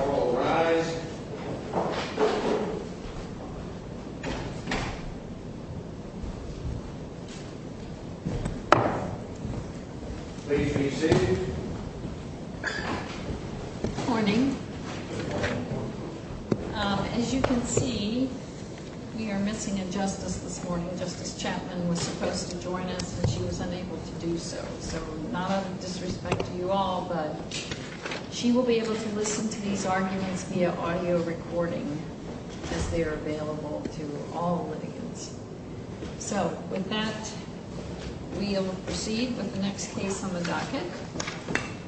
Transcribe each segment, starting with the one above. All rise. Please be seated. Morning. As you can see, we are missing a justice this morning. Justice Chapman was supposed to join us and she was unable to do so. So, not out of disrespect to you all, but she will be able to listen to these arguments via audio recording as they are available to all litigants. So, with that, we will proceed with the next case on the docket,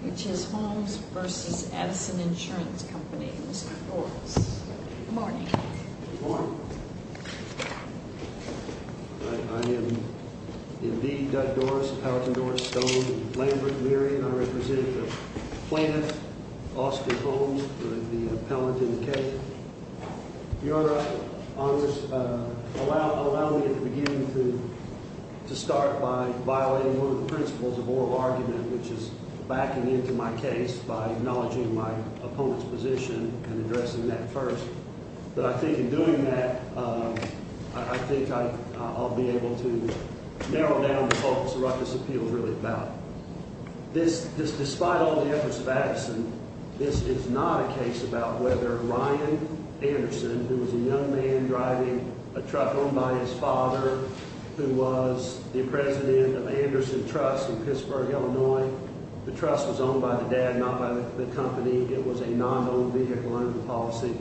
which is Holmes v. Addison Insurance Co. Mr. Doris. Good morning. Good morning. I am indeed Doug Doris, Howard Doris, Stone, Lambert, Leary, and I represent the plaintiff, Austin Holmes, for the appellant in the case. Your Honors, allow me at the beginning to start by violating one of the principles of oral argument, which is backing into my case by acknowledging my opponent's position and addressing that first. But I think in doing that, I think I'll be able to narrow down the focus of what this appeal is really about. Despite all the efforts of Addison, this is not a case about whether Ryan Anderson, who was a young man driving a truck owned by his father, who was the president of Anderson Trust in Pittsburgh, Illinois. The trust was owned by the dad, not by the company. It was a non-owned vehicle under the policy.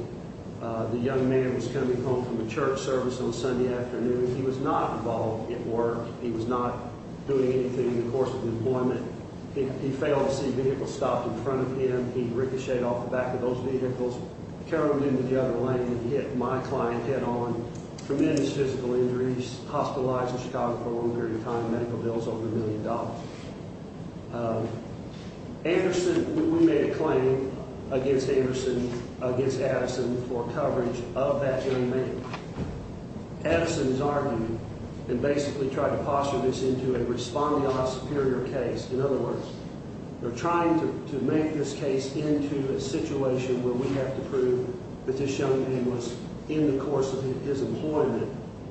The young man was coming home from a church service on Sunday afternoon. He was not involved at work. He was not doing anything in the course of the appointment. He failed to see vehicles stopped in front of him. He ricocheted off the back of those vehicles, caroled into the other lane, and hit my client head-on, tremendous physical injuries, hospitalized in Chicago for a long period of time, medical bills over a million dollars. Anderson, we made a claim against Anderson, against Addison, for coverage of that young man. Addison is arguing and basically trying to posture this into a responding on a superior case. In other words, they're trying to make this case into a situation where we have to prove that this young man was in the course of his employment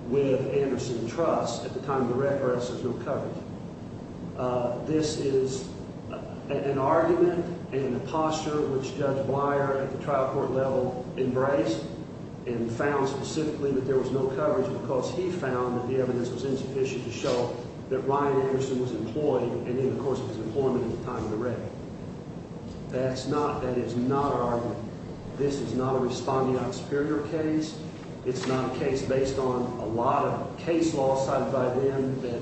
with Anderson Trust at the time of the reference of no coverage. This is an argument and a posture which Judge Weyer at the trial court level embraced and found specifically that there was no coverage because he found that the evidence was insufficient to show that Ryan Anderson was employed and in the course of his employment at the time of the wreck. That is not an argument. This is not a responding on a superior case. It's not a case based on a lot of case law cited by them that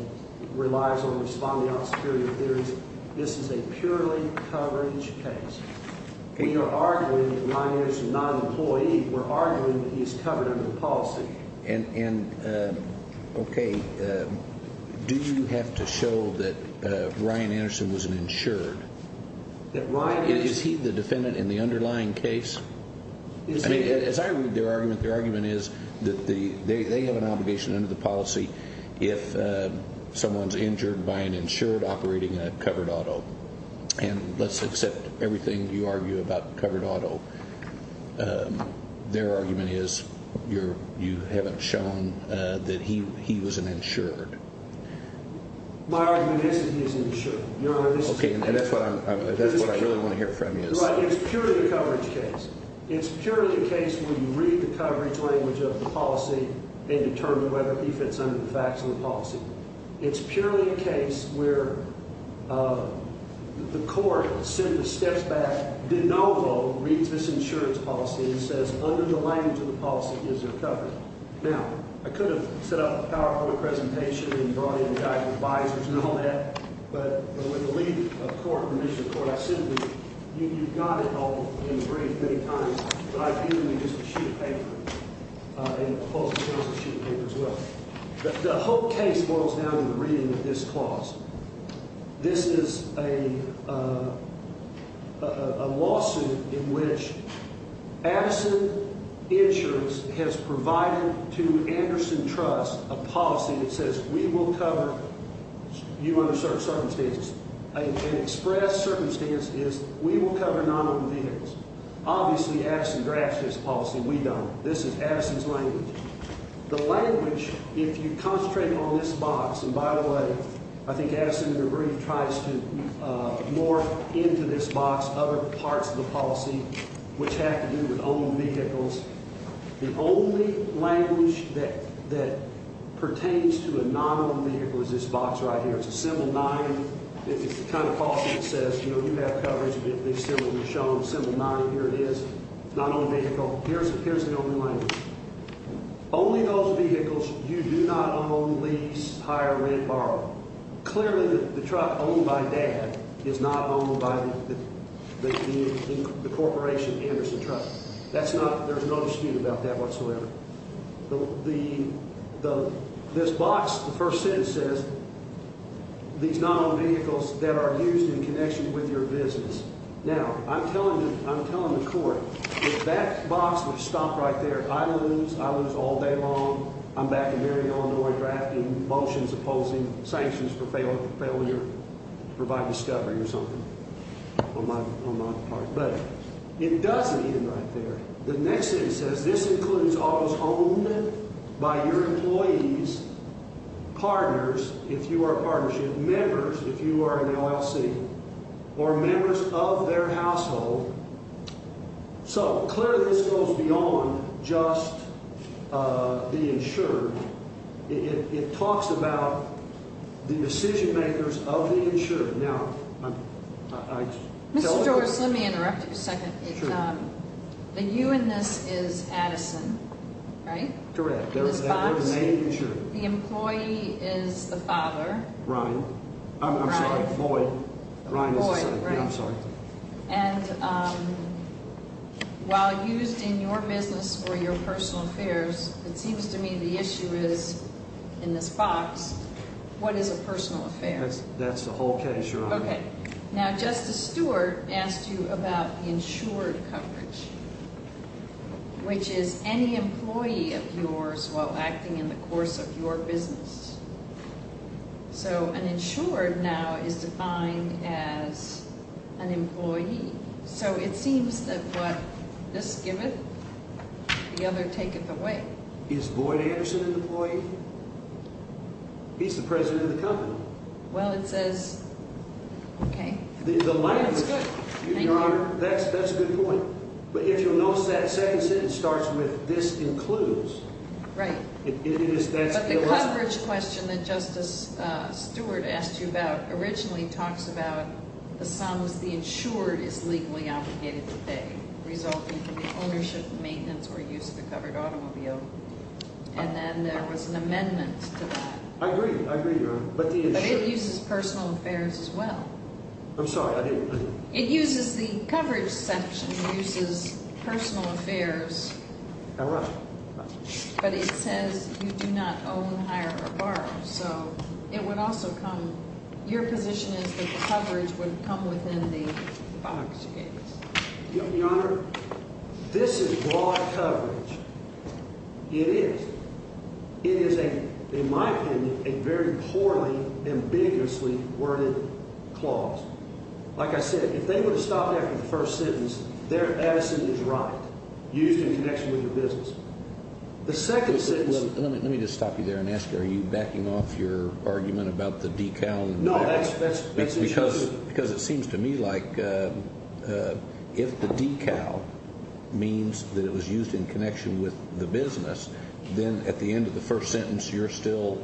relies on responding on superior theories. This is a purely coverage case. We are arguing that Ryan Anderson is not an employee. We're arguing that he's covered under the policy. And, okay, do you have to show that Ryan Anderson was an insured? Is he the defendant in the underlying case? I mean, as I read their argument, their argument is that they have an obligation under the policy if someone's injured by an insured operating a covered auto. And let's accept everything you argue about covered auto. Their argument is you haven't shown that he was an insured. My argument is that he is an insured, Your Honor. Okay, and that's what I really want to hear from you. Your Honor, it's purely a coverage case. It's purely a case where you read the coverage language of the policy and determine whether he fits under the facts of the policy. It's purely a case where the court simply steps back, de novo, reads this insurance policy and says under the language of the policy is there coverage. Now, I could have set up a PowerPoint presentation and brought in a guy who advises and all that. But with the leave of court and permission of court, I simply, you've got it all in the brief many times. But I view it as just a sheet of paper. And I suppose it's also a sheet of paper as well. But the whole case boils down to the reading of this clause. This is a lawsuit in which Addison Insurance has provided to Anderson Trust a policy that says we will cover you under certain circumstances. An express circumstance is we will cover non-owned vehicles. Obviously, Addison drafts this policy. We don't. This is Addison's language. The language, if you concentrate on this box, and by the way, I think Addison in the brief tries to morph into this box other parts of the policy which have to do with owned vehicles. The only language that pertains to a non-owned vehicle is this box right here. It's a symbol nine. It's the kind of policy that says, you know, you have coverage, at least similarly shown. Symbol nine. Here it is. Not owned vehicle. Here's the only language. Only those vehicles you do not own lease, hire, rent, borrow. Clearly, the truck owned by Dad is not owned by the corporation, Anderson Trust. That's not – there's no dispute about that whatsoever. The – this box, the first sentence says these non-owned vehicles that are used in connection with your business. Now, I'm telling the court, if that box would stop right there, I lose. I lose all day long. I'm back in Marion, Illinois, drafting motions opposing sanctions for failure to provide discovery or something on my part. But it doesn't end right there. The next sentence says this includes all those owned by your employees, partners, if you are a partnership, members, if you are an LLC, or members of their household. So, clearly, this goes beyond just the insured. It talks about the decision-makers of the insured. Mr. Joris, let me interrupt you a second. Sure. The you in this is Addison, right? Correct. In this box, the employee is the father. Ryan. I'm sorry, Lloyd. Lloyd, right. I'm sorry. And while used in your business or your personal affairs, it seems to me the issue is in this box, what is a personal affair? That's the whole case, Your Honor. Okay. Now, Justice Stewart asked you about the insured coverage, which is any employee of yours while acting in the course of your business. So, an insured now is defined as an employee. So, it seems that what this giveth, the other taketh away. Is Lloyd Anderson an employee? He's the president of the company. Well, it says. Okay. That's good. Thank you. Your Honor, that's a good point. But if you'll notice that second sentence starts with this includes. Right. But the coverage question that Justice Stewart asked you about originally talks about the sums the insured is legally obligated to pay resulting from the ownership, maintenance, or use of a covered automobile. And then there was an amendment to that. I agree. I agree, Your Honor. But the insured. But it uses personal affairs as well. I'm sorry. I didn't. It uses the coverage section. It uses personal affairs. All right. But it says you do not own, hire, or borrow. So, it would also come. Your position is that the coverage would come within the box case. Your Honor, this is broad coverage. It is. It is, in my opinion, a very poorly, ambiguously worded clause. Like I said, if they would have stopped after the first sentence, that sentence is right, used in connection with the business. The second sentence. Let me just stop you there and ask, are you backing off your argument about the decal? No, that's. Because it seems to me like if the decal means that it was used in connection with the business, then at the end of the first sentence you're still.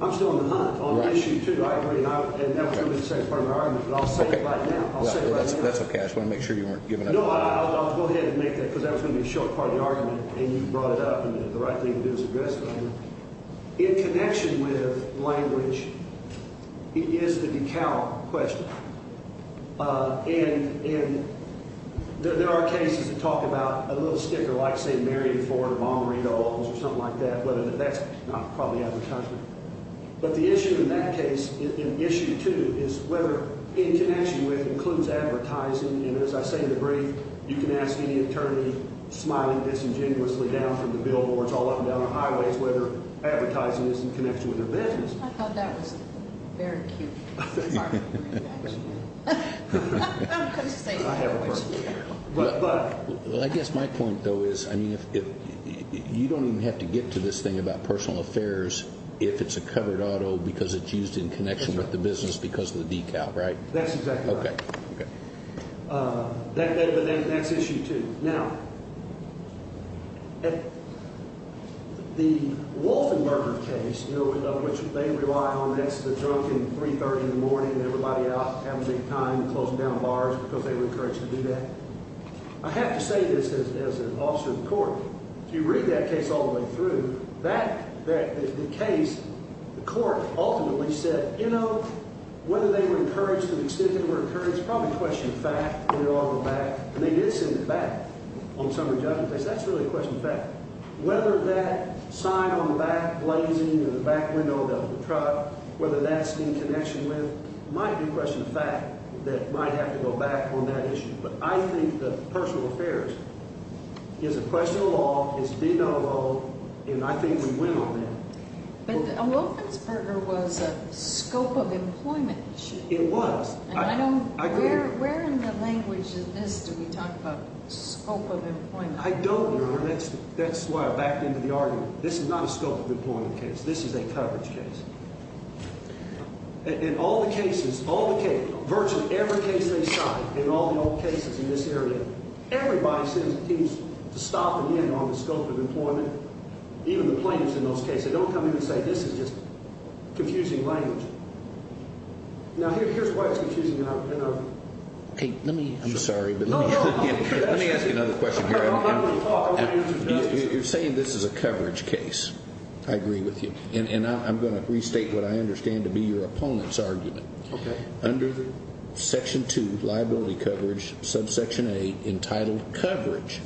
I'm still on the hunt on issue two. I agree. And that was going to be the second part of my argument. But I'll say it right now. I'll say it right now. That's okay. I just wanted to make sure you weren't giving up. No, I'll go ahead and make that because that was going to be the short part of the argument. And you brought it up. And the right thing to do is address it. In connection with language, it is the decal question. And there are cases that talk about a little sticker like St. Mary in Florida, Monterey Gulls or something like that. But that's not probably out of the country. But the issue in that case, in issue two, is whether in connection with includes advertising. And as I say in the brief, you can ask any attorney, smiling disingenuously down from the billboards all up and down the highways, whether advertising is in connection with their business. I thought that was very cute. I guess my point, though, is you don't even have to get to this thing about personal affairs if it's a covered auto because it's used in connection with the business because of the decal, right? That's exactly right. But that's issue two. Now, the Wolfenberger case, which they rely on, that's the drunk in 330 in the morning and everybody out having a good time, closing down bars because they were encouraged to do that. I have to say this as an officer of the court. If you read that case all the way through that, that is the case. The court ultimately said, you know, whether they were encouraged to the extent they were encouraged, probably question the fact that it all went back. And they did send it back on summary judgment. That's really a question of fact. Whether that sign on the back blazing in the back window of the truck, whether that's in connection with might be a question of fact that might have to go back on that issue. But I think the personal affairs is a question of law. It's being done alone. And I think we win on that. But Wolfenberger was a scope of employment. It was. I don't. Where in the language is this? Do we talk about scope of employment? I don't know. That's that's why I backed into the argument. This is not a scope of employment case. This is a coverage case. In all the cases, all the virtually every case they shot in all the old cases in this area, everybody seems to stop again on the scope of employment. Even the plaintiffs in those cases don't come in and say, this is just confusing language. Now, here's why it's confusing. I'm sorry, but let me ask another question. You're saying this is a coverage case. I agree with you. And I'm going to restate what I understand to be your opponent's argument. Okay. Under section two, liability coverage, subsection eight, entitled coverage,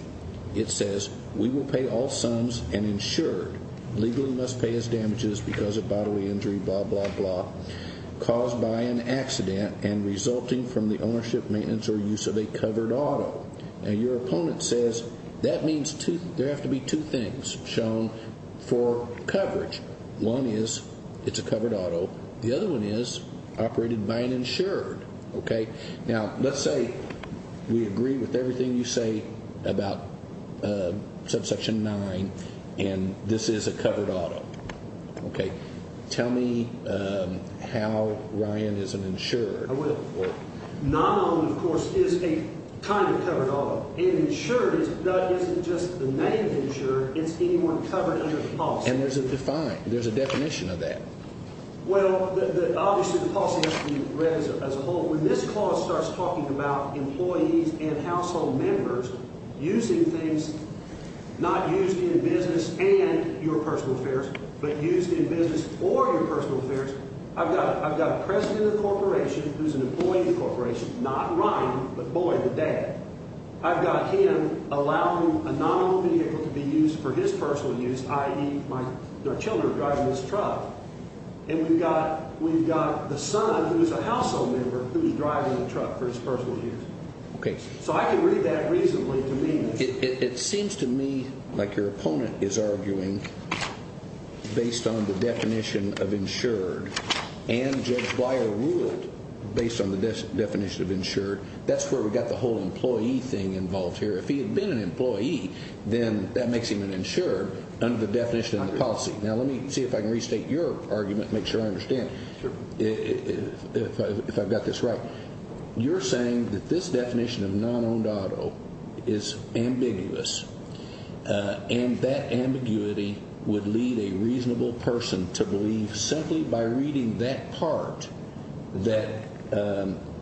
it says we will pay all sums and insured. Legally must pay as damages because of bodily injury, blah, blah, blah, caused by an accident and resulting from the ownership, maintenance, or use of a covered auto. Now, your opponent says that means there have to be two things shown for coverage. One is it's a covered auto. The other one is operated by an insured. Okay. Now, let's say we agree with everything you say about subsection nine, and this is a covered auto. Okay. Tell me how Ryan is an insured. I will. Non-owned, of course, is a kind of covered auto. And insured isn't just the name of insured. It's anyone covered under the policy. And there's a defined, there's a definition of that. Well, obviously, the policy has to be read as a whole. When this clause starts talking about employees and household members using things not used in business and your personal affairs, but used in business for your personal affairs, I've got a president of the corporation who's an employee of the corporation, not Ryan, but boy, the dad. I've got him allowing a non-owned vehicle to be used for his personal use, i.e., their children are driving this truck. And we've got the son, who is a household member, who is driving the truck for his personal use. Okay. So I can read that reasonably to me. It seems to me like your opponent is arguing based on the definition of insured. And Judge Beyer ruled based on the definition of insured. That's where we've got the whole employee thing involved here. If he had been an employee, then that makes him an insured under the definition of the policy. Now, let me see if I can restate your argument and make sure I understand if I've got this right. You're saying that this definition of non-owned auto is ambiguous. And that ambiguity would lead a reasonable person to believe simply by reading that part that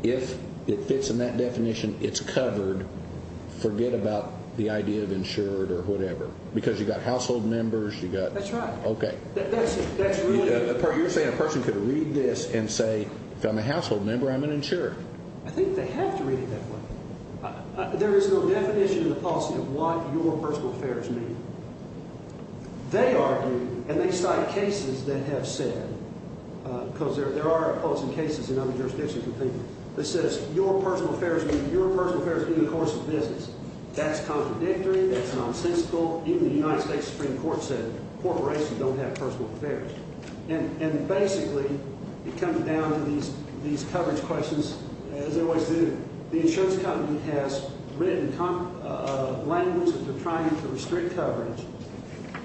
if it fits in that definition, it's covered, forget about the idea of insured or whatever. Because you've got household members. That's right. Okay. You're saying a person could read this and say, if I'm a household member, I'm an insured. I think they have to read it that way. There is no definition in the policy of what your personal affairs mean. They argue, and they cite cases that have said, because there are opposing cases in other jurisdictions. It says your personal affairs mean the course of business. That's contradictory. That's nonsensical. Even the United States Supreme Court said corporations don't have personal affairs. And basically, it comes down to these coverage questions, as they always do. The insurance company has written language that they're trying to restrict coverage,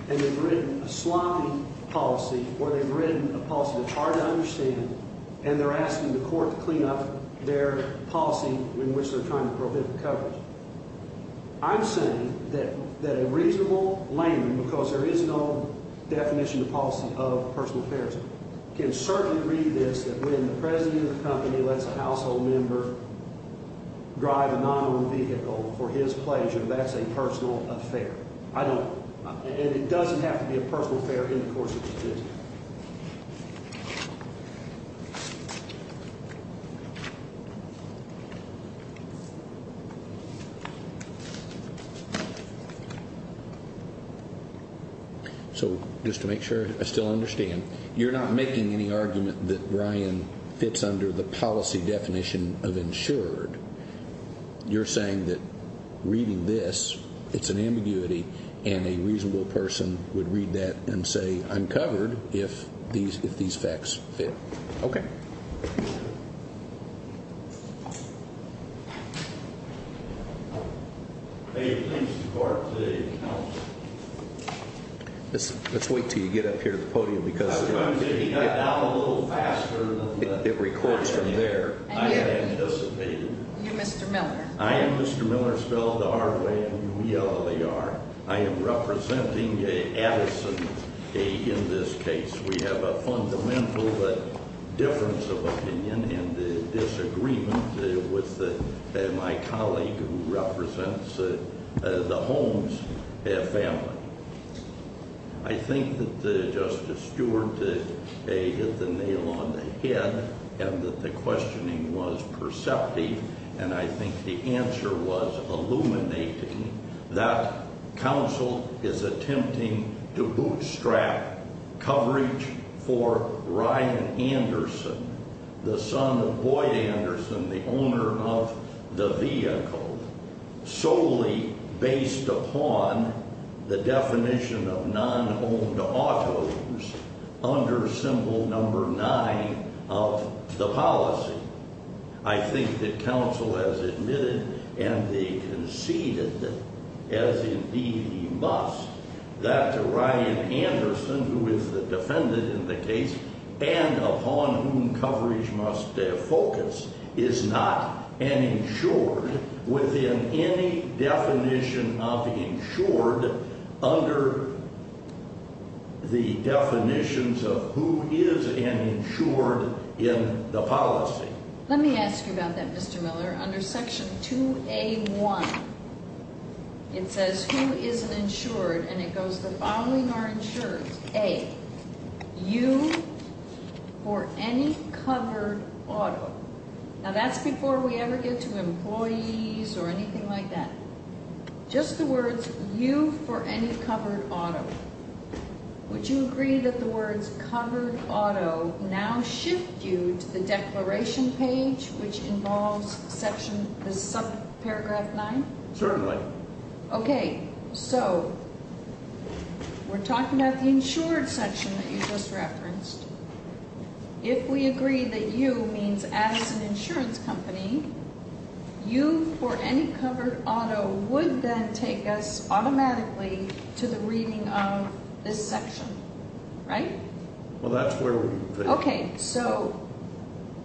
and they've written a sloppy policy or they've written a policy that's hard to understand, and they're asking the court to clean up their policy in which they're trying to prohibit the coverage. I'm saying that a reasonable layman, because there is no definition in the policy of personal affairs, can certainly read this that when the president of the company lets a household member drive a non-owned vehicle for his pleasure, that's a personal affair. And it doesn't have to be a personal affair in the course of business. So just to make sure I still understand, you're not making any argument that Ryan fits under the policy definition of insured. You're saying that reading this, it's an ambiguity, and a reasonable person would read that and say, I'm covered if these facts fit. Okay. Let's wait until you get up here to the podium, because it records from there. I am Mr. Miller. I am Mr. Miller, spelled R-W-E-L-L-E-R. I am representing Addison in this case. We have a fundamental difference of opinion and disagreement with my colleague who represents the Holmes family. I think that Justice Stewart hit the nail on the head and that the questioning was perceptive, and I think the answer was illuminating, that counsel is attempting to bootstrap coverage for Ryan Anderson, the son of Boyd Anderson, the owner of the vehicle, solely based upon the definition of non-owned autos under symbol number 9 of the policy. I think that counsel has admitted and they conceded, as indeed he must, that Ryan Anderson, who is the defendant in the case, and upon whom coverage must focus, is not an insured within any definition of insured under the definitions of who is an insured in the policy. Let me ask you about that, Mr. Miller. Under Section 2A.1, it says who is an insured, and it goes the following are insured. A. You for any covered auto. Now, that's before we ever get to employees or anything like that. Just the words, you for any covered auto. Would you agree that the words covered auto now shift you to the declaration page, which involves the subparagraph 9? Certainly. Okay. So, we're talking about the insured section that you just referenced. If we agree that you means as an insurance company, you for any covered auto would then take us automatically to the reading of this section, right? Well, that's where we're going. Okay. So,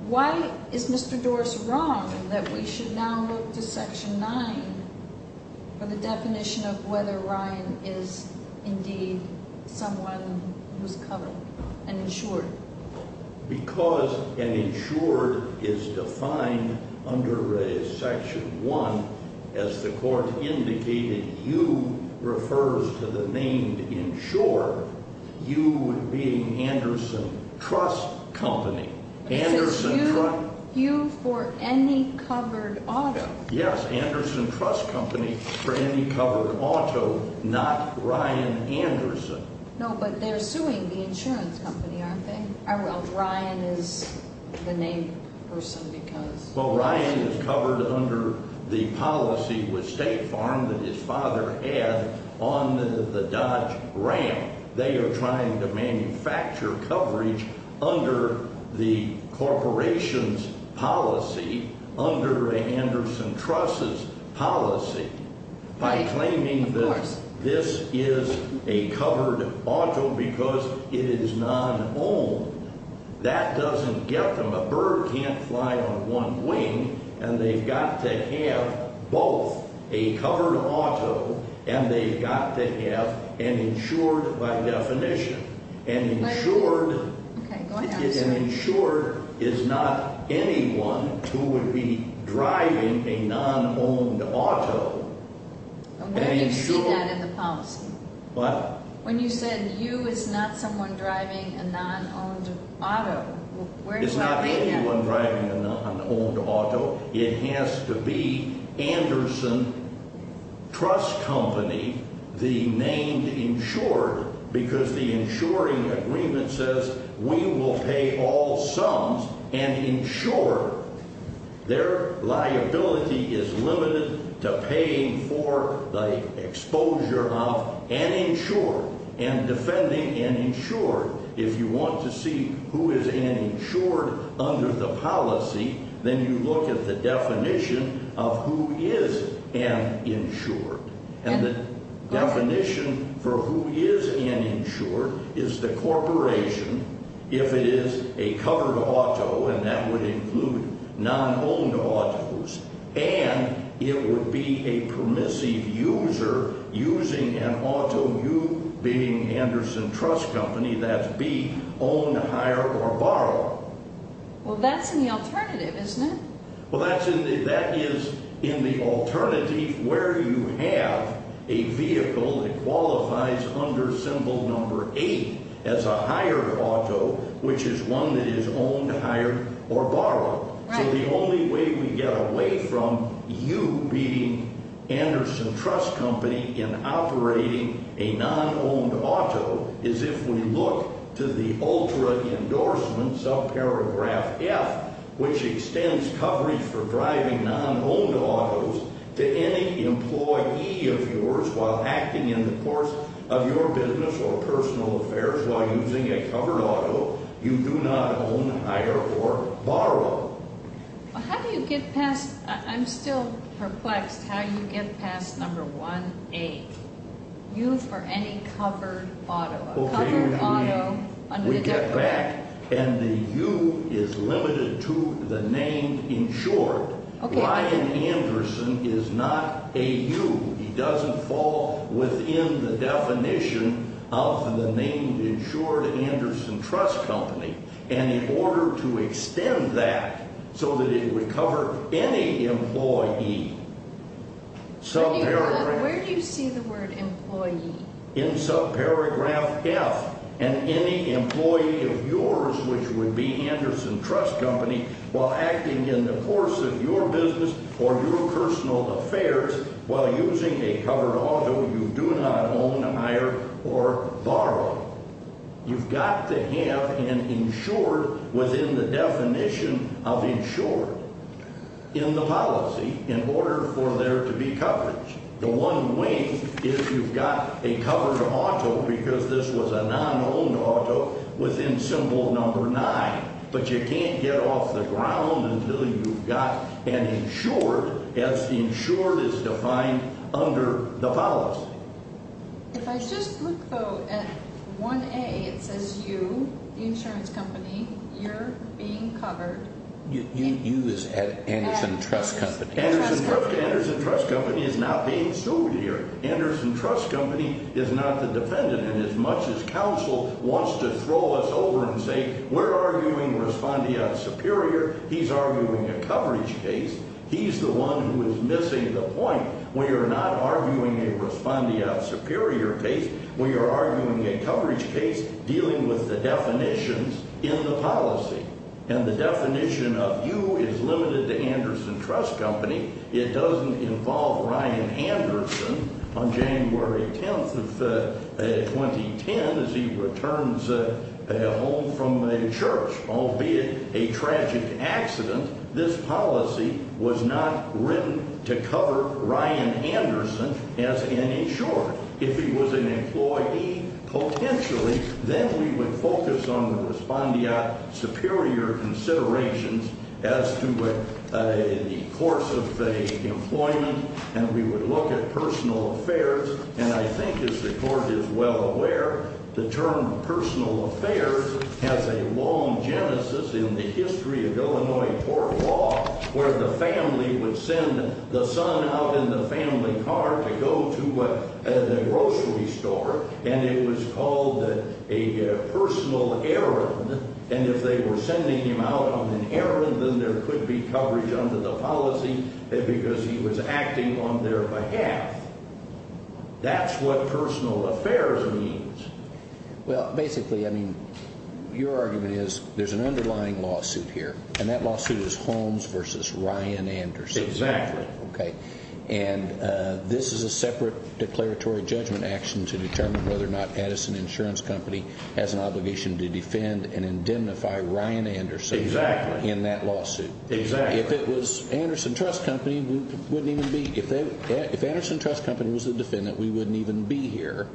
why is Mr. Doris wrong that we should now look to Section 9 for the definition of whether Ryan is indeed someone who's covered, an insured? Because an insured is defined under Section 1, as the Court indicated, you refers to the name insured, you being Anderson Trust Company. It says you for any covered auto. Yes, Anderson Trust Company for any covered auto, not Ryan Anderson. No, but they're suing the insurance company, aren't they? Well, Ryan is the named person because. Well, Ryan is covered under the policy with State Farm that his father had on the Dodge Ram. They are trying to manufacture coverage under the corporation's policy, under the Anderson Trust's policy, by claiming that this is a covered auto because it is non-owned. That doesn't get them. A bird can't fly on one wing, and they've got to have both a covered auto and they've got to have an insured by definition. An insured is not anyone who would be driving a non-owned auto. When did you see that in the policy? What? When you said you, it's not someone driving a non-owned auto. It's not anyone driving a non-owned auto. It has to be Anderson Trust Company, the named insured, because the insuring agreement says we will pay all sums, an insured. Their liability is limited to paying for the exposure of an insured and defending an insured. If you want to see who is an insured under the policy, then you look at the definition of who is an insured. And the definition for who is an insured is the corporation, if it is a covered auto, and that would include non-owned autos, and it would be a permissive user using an auto, you being Anderson Trust Company, that's B, owned, hired, or borrowed. Well, that's in the alternative, isn't it? Well, that is in the alternative where you have a vehicle that qualifies under symbol number 8 as a hired auto, which is one that is owned, hired, or borrowed. So the only way we get away from you being Anderson Trust Company in operating a non-owned auto is if we look to the ultra endorsement subparagraph F, which extends coverage for driving non-owned autos to any employee of yours while acting in the course of your business or personal affairs while using a covered auto. You do not own, hire, or borrow. Well, how do you get past, I'm still perplexed how you get past number 1A, U for any covered auto, a covered auto under the declaration. We get back, and the U is limited to the name insured. Okay. Brian Anderson is not a U. He doesn't fall within the definition of the name insured Anderson Trust Company. And in order to extend that so that it would cover any employee, subparagraph… Where do you see the word employee? In subparagraph F, and any employee of yours which would be Anderson Trust Company while acting in the course of your business or your personal affairs while using a covered auto, you do not own, hire, or borrow. You've got to have an insured within the definition of insured in the policy in order for there to be coverage. The one way is you've got a covered auto because this was a non-owned auto within symbol number 9. But you can't get off the ground until you've got an insured as insured is defined under the policy. If I just look, though, at 1A, it says U, the insurance company, you're being covered. U is Anderson Trust Company. Anderson Trust Company is not being sued here. Anderson Trust Company is not the defendant in as much as counsel wants to throw us over and say we're arguing respondeat superior. He's arguing a coverage case. He's the one who is missing the point. We are not arguing a respondeat superior case. We are arguing a coverage case dealing with the definitions in the policy. And the definition of U is limited to Anderson Trust Company. It doesn't involve Ryan Anderson on January 10th of 2010 as he returns home from a church, albeit a tragic accident. This policy was not written to cover Ryan Anderson as an insured. If he was an employee, potentially, then we would focus on the respondeat superior considerations as to the course of employment. And we would look at personal affairs. And I think, as the Court is well aware, the term personal affairs has a long genesis in the history of Illinois court law, where the family would send the son out in the family car to go to the grocery store, and it was called a personal errand. And if they were sending him out on an errand, then there could be coverage under the policy because he was acting on their behalf. That's what personal affairs means. Well, basically, I mean, your argument is there's an underlying lawsuit here, and that lawsuit is Holmes v. Ryan Anderson. Exactly. Okay. And this is a separate declaratory judgment action to determine whether or not Addison Insurance Company has an obligation to defend and indemnify Ryan Anderson. Exactly. In that lawsuit. Exactly. If it was Anderson Trust Company, we wouldn't even be – if Anderson Trust Company was the defendant, we wouldn't even be here,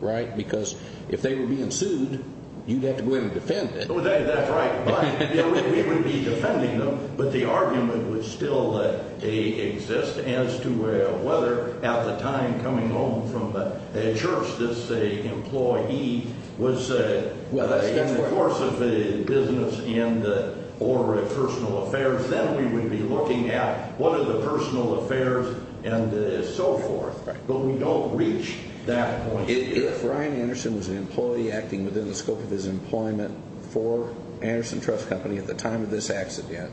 right? Because if they were being sued, you'd have to go in and defend it. That's right. We would be defending them, but the argument would still exist as to whether at the time coming home from church this employee was in the course of a business in the order of personal affairs. Then we would be looking at what are the personal affairs and so forth. Right. But we don't reach that point yet. If Ryan Anderson was an employee acting within the scope of his employment for Anderson Trust Company at the time of this accident,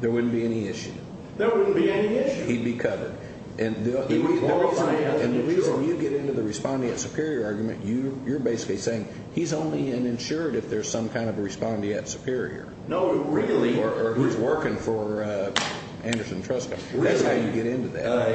there wouldn't be any issue. There wouldn't be any issue. He'd be covered. And the reason you get into the respondeat superior argument, you're basically saying he's only an insured if there's some kind of a respondeat superior. No, really. Or who's working for Anderson Trust Company. Really. That's how you get into that.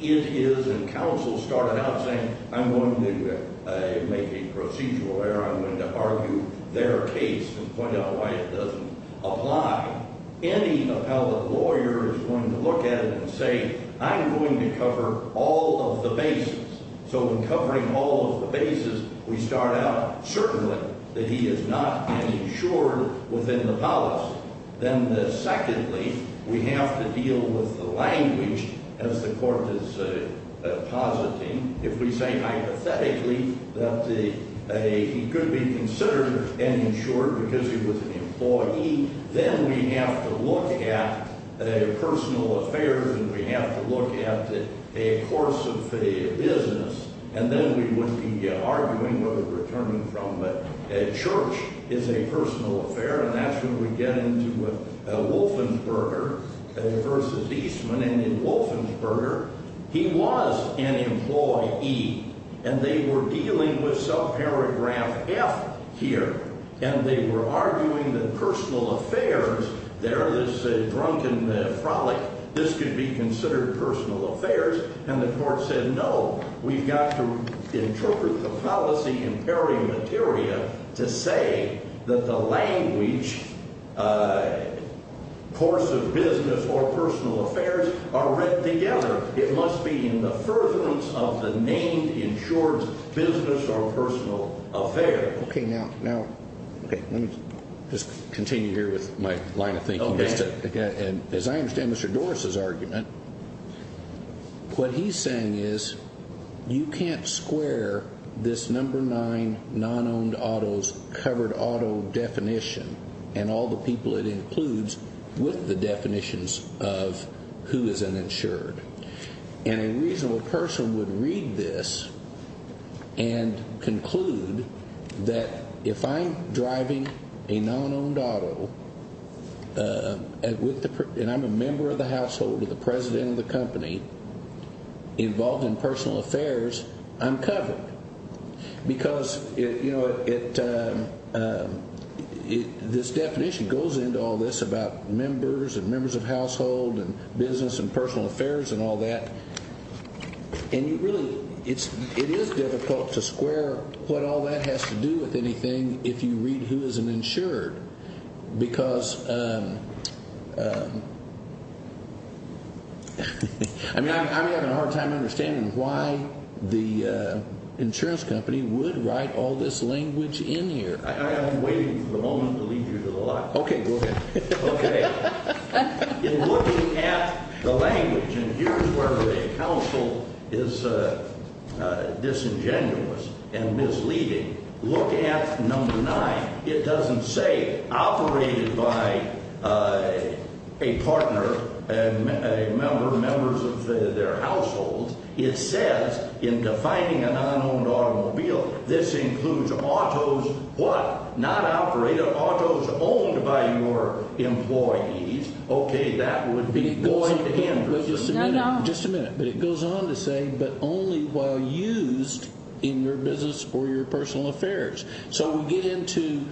It is, and counsel started out saying, I'm going to make a procedural error. I'm going to argue their case and point out why it doesn't apply. Any appellate lawyer is going to look at it and say, I'm going to cover all of the bases. So in covering all of the bases, we start out certainly that he is not an insured within the policy. Then secondly, we have to deal with the language as the court is positing. If we say hypothetically that he could be considered an insured because he was an employee, then we have to look at personal affairs and we have to look at a course of business. And then we wouldn't be arguing where we're returning from. But church is a personal affair, and that's when we get into Wolfensberger versus Eastman. And in Wolfensberger, he was an employee, and they were dealing with subparagraph F here. And they were arguing that personal affairs, there, this drunken frolic, this could be considered personal affairs. And the court said, no, we've got to interpret the policy in Perry materia to say that the language course of business or personal affairs are read together. It must be in the furtherance of the name insured business or personal affair. OK, now, now, let me just continue here with my line of thinking. As I understand Mr. Doris's argument, what he's saying is you can't square this number nine non-owned auto's covered auto definition and all the people it includes with the definitions of who is an insured. And a reasonable person would read this and conclude that if I'm driving a non-owned auto and I'm a member of the household of the president of the company involved in personal affairs, I'm covered. Because, you know, it, this definition goes into all this about members and members of household and business and personal affairs and all that. And you really, it is difficult to square what all that has to do with anything if you read who is an insured. Because, I mean, I'm having a hard time understanding why the insurance company would write all this language in here. I am waiting for the moment to lead you to the lot. OK, go ahead. OK. In looking at the language, and here's where the counsel is disingenuous and misleading, look at number nine. It doesn't say operated by a partner, a member, members of their household. It says in defining a non-owned automobile, this includes auto's what? Not operated, auto's owned by your employees. OK, that would be Lloyd Anderson. No, no. Just a minute. But it goes on to say, but only while used in your business or your personal affairs. So we get into,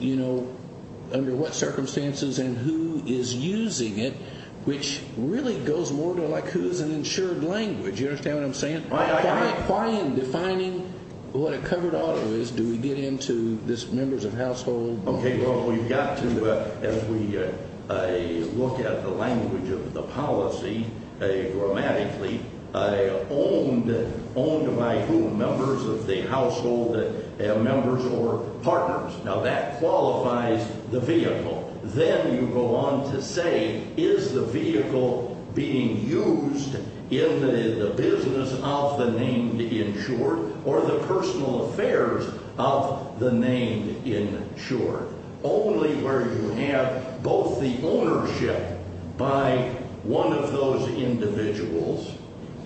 you know, under what circumstances and who is using it, which really goes more to like who is an insured language. You understand what I'm saying? Why in defining what a covered auto is do we get into this members of household? OK, well, we've got to, as we look at the language of the policy grammatically, owned by whom? Members of the household, members or partners. Now, that qualifies the vehicle. Then you go on to say, is the vehicle being used in the business of the named insured or the personal affairs of the named insured? Only where you have both the ownership by one of those individuals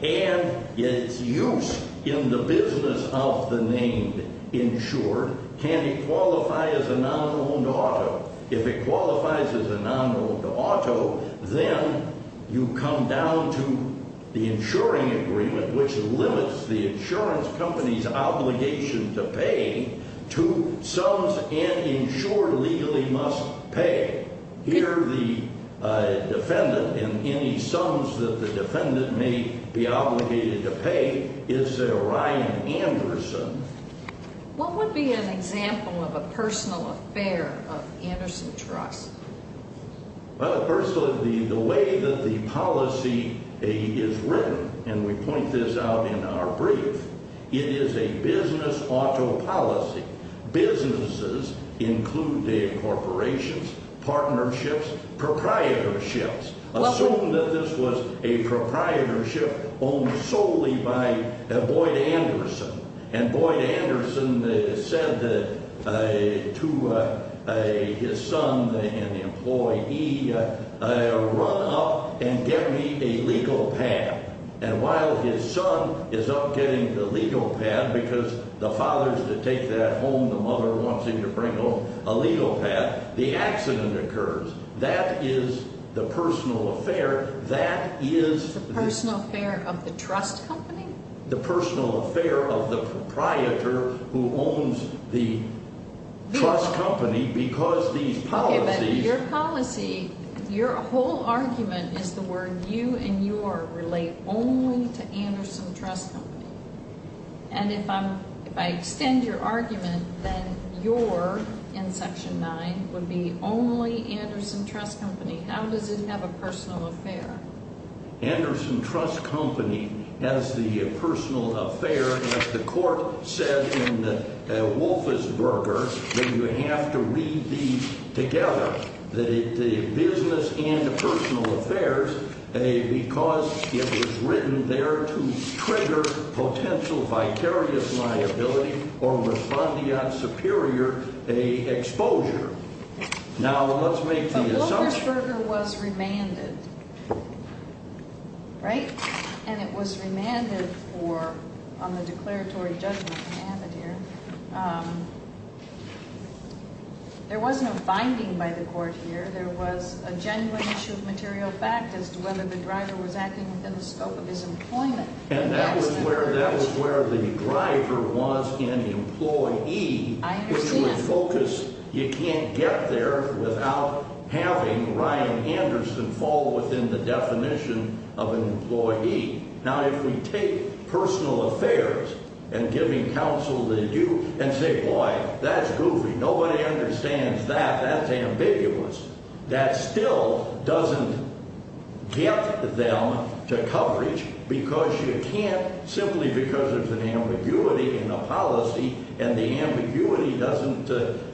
and its use in the business of the named insured can it qualify as a non-owned auto. If it qualifies as a non-owned auto, then you come down to the insuring agreement, which limits the insurance company's obligation to pay to sums an insured legally must pay. Here the defendant in any sums that the defendant may be obligated to pay is a Ryan Anderson. What would be an example of a personal affair of Anderson Trust? Well, first of all, the way that the policy is written, and we point this out in our brief, it is a business auto policy. Businesses include the corporations, partnerships, proprietorships. Assume that this was a proprietorship owned solely by Boyd Anderson, and Boyd Anderson said to his son, an employee, run up and get me a legal pad. And while his son is up getting the legal pad because the father's to take that home, the mother wants him to bring home a legal pad, the accident occurs. That is the personal affair. That is the personal affair of the trust company? The personal affair of the proprietor who owns the trust company because these policies... But your policy, your whole argument is the word you and your relate only to Anderson Trust Company. And if I extend your argument, then your, in Section 9, would be only Anderson Trust Company. How does it have a personal affair? Anderson Trust Company has the personal affair. The court said in Wolfersberger that you have to read these together, the business and the personal affairs, because it was written there to trigger potential vicarious liability or respondeat superior exposure. Now, let's make the assumption... But Wolfersberger was remanded, right? And it was remanded for, on the declaratory judgment that happened here. There was no finding by the court here. There was a genuine issue of material fact as to whether the driver was acting within the scope of his employment. And that was where the driver was an employee. I understand. You can't get there without having Ryan Anderson fall within the definition of an employee. Now, if we take personal affairs and giving counsel to you and say, boy, that's goofy. Nobody understands that. That's ambiguous. That still doesn't get them to coverage because you can't simply because there's an ambiguity in a policy, and the ambiguity doesn't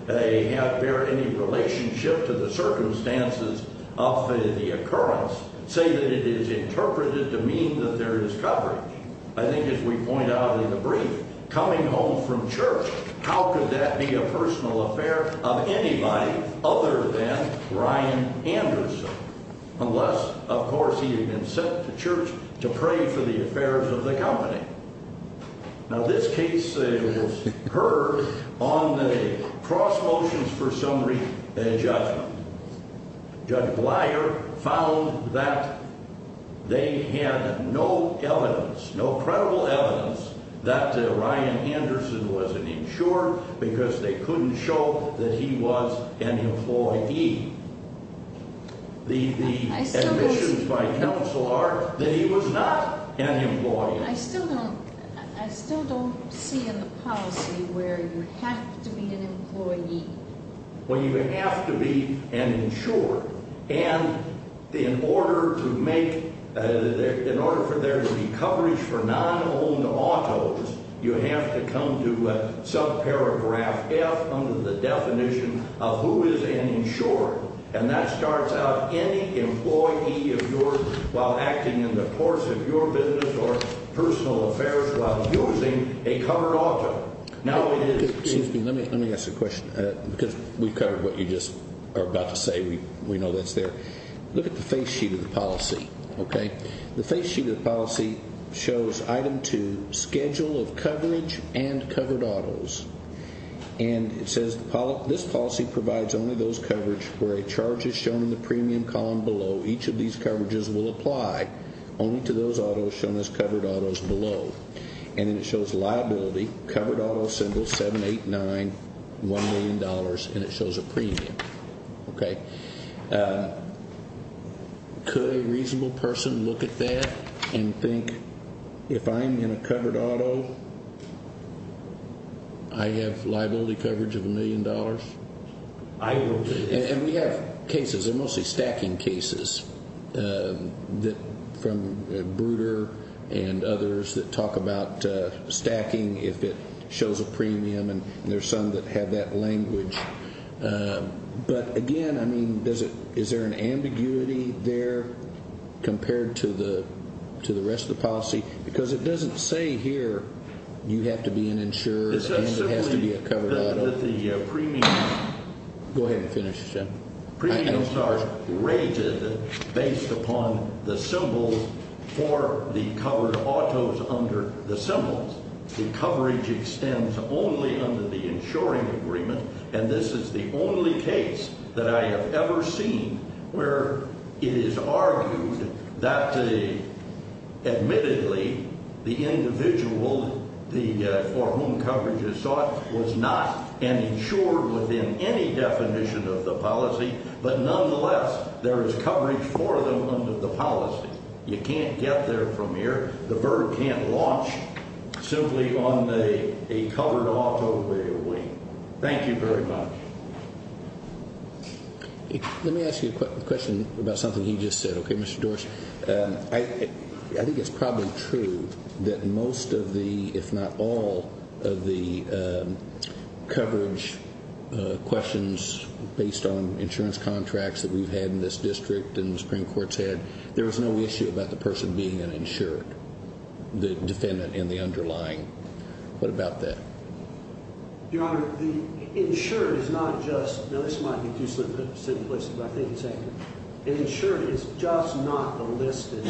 bear any relationship to the circumstances of the occurrence, say that it is interpreted to mean that there is coverage. I think as we point out in the brief, coming home from church, how could that be a personal affair of anybody other than Ryan Anderson? Unless, of course, he had been sent to church to pray for the affairs of the company. Now, this case was heard on the cross motions for summary judgment. Judge Bleier found that they had no evidence, no credible evidence, that Ryan Anderson was an insurer because they couldn't show that he was an employee. The admissions by counsel are that he was not an employee. I still don't see in the policy where you have to be an employee. Well, you have to be an insurer. And in order for there to be coverage for non-owned autos, you have to come to subparagraph F under the definition of who is an insurer. And that starts out any employee of yours while acting in the course of your business or personal affairs while using a covered auto. Excuse me, let me ask a question. Because we've covered what you just are about to say, we know that's there. Look at the face sheet of the policy, okay? The face sheet of the policy shows item two, schedule of coverage and covered autos. And it says this policy provides only those coverage where a charge is shown in the premium column below. Each of these coverages will apply only to those autos shown as covered autos below. And then it shows liability, covered auto symbol 789, $1 million, and it shows a premium, okay? Could a reasonable person look at that and think, if I'm in a covered auto, I have liability coverage of $1 million? I will do that. And we have cases. They're mostly stacking cases from Bruder and others that talk about stacking if it shows a premium. And there's some that have that language. But, again, I mean, is there an ambiguity there compared to the rest of the policy? Because it doesn't say here you have to be an insurer and it has to be a covered auto. Go ahead and finish, Jim. Premiums are rated based upon the symbols for the covered autos under the symbols. The coverage extends only under the insuring agreement. And this is the only case that I have ever seen where it is argued that, admittedly, the individual for whom coverage is sought was not an insurer within any definition of the policy. But, nonetheless, there is coverage for them under the policy. You can't get there from here. The VERB can't launch simply on a covered auto way. Thank you very much. Let me ask you a question about something he just said, okay, Mr. Dorsey? I think it's probably true that most of the, if not all of the coverage questions based on insurance contracts that we've had in this district and the Supreme Court's had, there was no issue about the person being an insured, the defendant and the underlying. What about that? Your Honor, the insured is not just – now, this might be too simplistic, but I think it's accurate. An insured is just not a listed,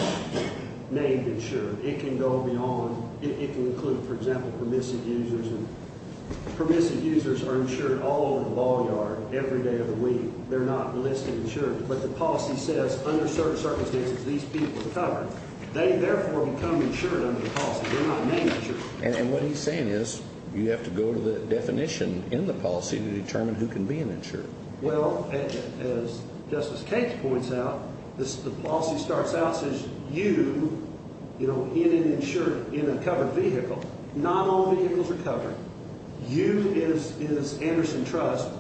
named insured. It can go beyond – it can include, for example, permissive users. And permissive users are insured all over the ball yard every day of the week. They're not listed insured. But the policy says under certain circumstances these people are covered. They, therefore, become insured under the policy. They're not named insured. And what he's saying is you have to go to the definition in the policy to determine who can be an insured. Well, as Justice Cates points out, the policy starts out as you in an insured – in a covered vehicle. Not all vehicles are covered. You, as Anderson trusts,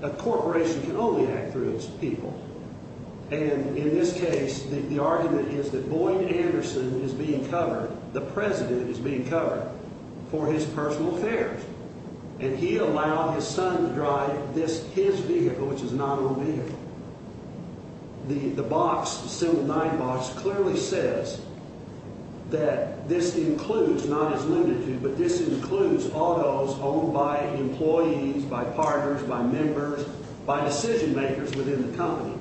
a corporation can only act through its people. And in this case, the argument is that Boyd Anderson is being covered, the president is being covered, for his personal affairs. And he allowed his son to drive this – his vehicle, which is an automobile. The box, Assembly 9 box, clearly says that this includes, not as limited to, but this includes autos owned by employees, by partners, by members, by decision makers within the company.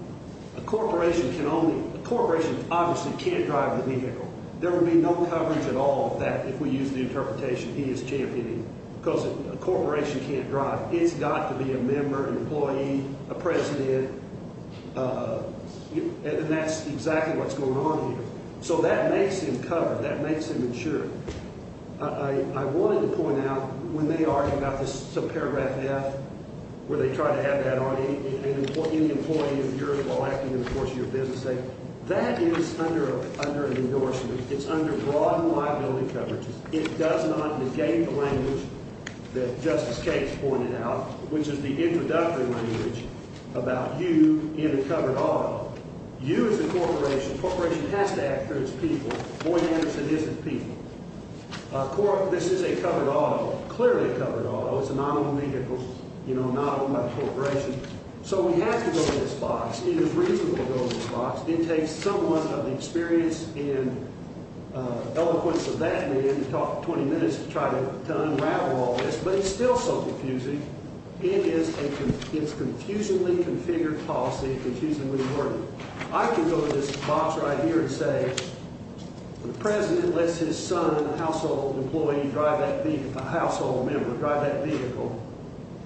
A corporation can only – a corporation obviously can't drive the vehicle. There would be no coverage at all of that if we use the interpretation he is championing. Because a corporation can't drive. It's got to be a member, an employee, a president, and that's exactly what's going on here. So that makes him covered. That makes him insured. I wanted to point out, when they argue about this subparagraph F, where they try to add that on any employee of yours while acting in the course of your business, that is under an endorsement. It's under broad liability coverage. It does not negate the language that Justice Cates pointed out, which is the introductory language about you in a covered auto. You as a corporation – a corporation has to act for its people. Boyd Anderson isn't people. This is a covered auto, clearly a covered auto. It's an automobile, you know, not owned by a corporation. So we have to go to this box. It is reasonable to go to this box. It takes someone of experience and eloquence of that man to talk 20 minutes to try to unravel all this. But it's still so confusing. It is a confusingly configured policy, confusingly worded. I can go to this box right here and say the president lets his son, a household employee, drive that vehicle – a household member drive that vehicle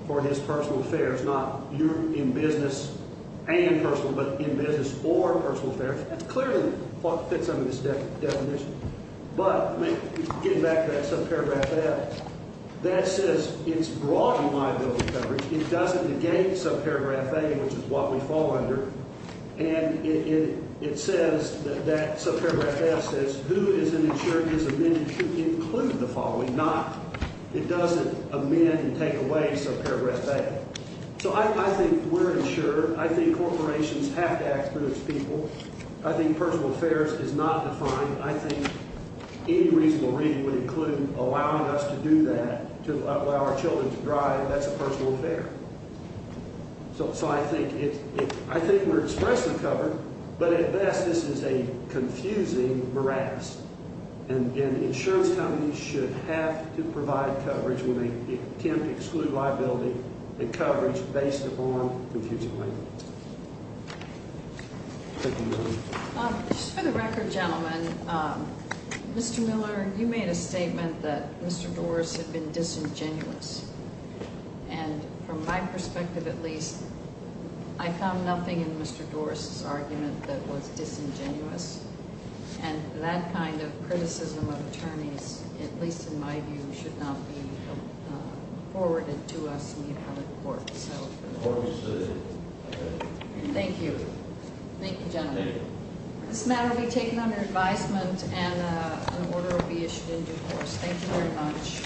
for his personal affairs, not in business and personal, but in business for personal affairs. It clearly fits under this definition. But getting back to that subparagraph F, that says it's broad liability coverage. It doesn't negate subparagraph A, which is what we fall under. And it says that that subparagraph F says who is an insurer who is amended to include the following. It doesn't amend and take away subparagraph A. So I think we're an insurer. I think corporations have to act through its people. I think personal affairs is not defined. I think any reasonable reading would include allowing us to do that, to allow our children to drive. That's a personal affair. So I think we're expressly covered, but at best this is a confusing morass. And insurance companies should have to provide coverage when they attempt to exclude liability and coverage based upon confusion. Thank you. Just for the record, gentlemen, Mr. Miller, you made a statement that Mr. Dorris had been disingenuous. And from my perspective at least, I found nothing in Mr. Dorris' argument that was disingenuous. And that kind of criticism of attorneys, at least in my view, should not be forwarded to us in the appellate court. Thank you. Thank you, gentlemen. This matter will be taken under advisement and an order will be issued in due course. Thank you very much.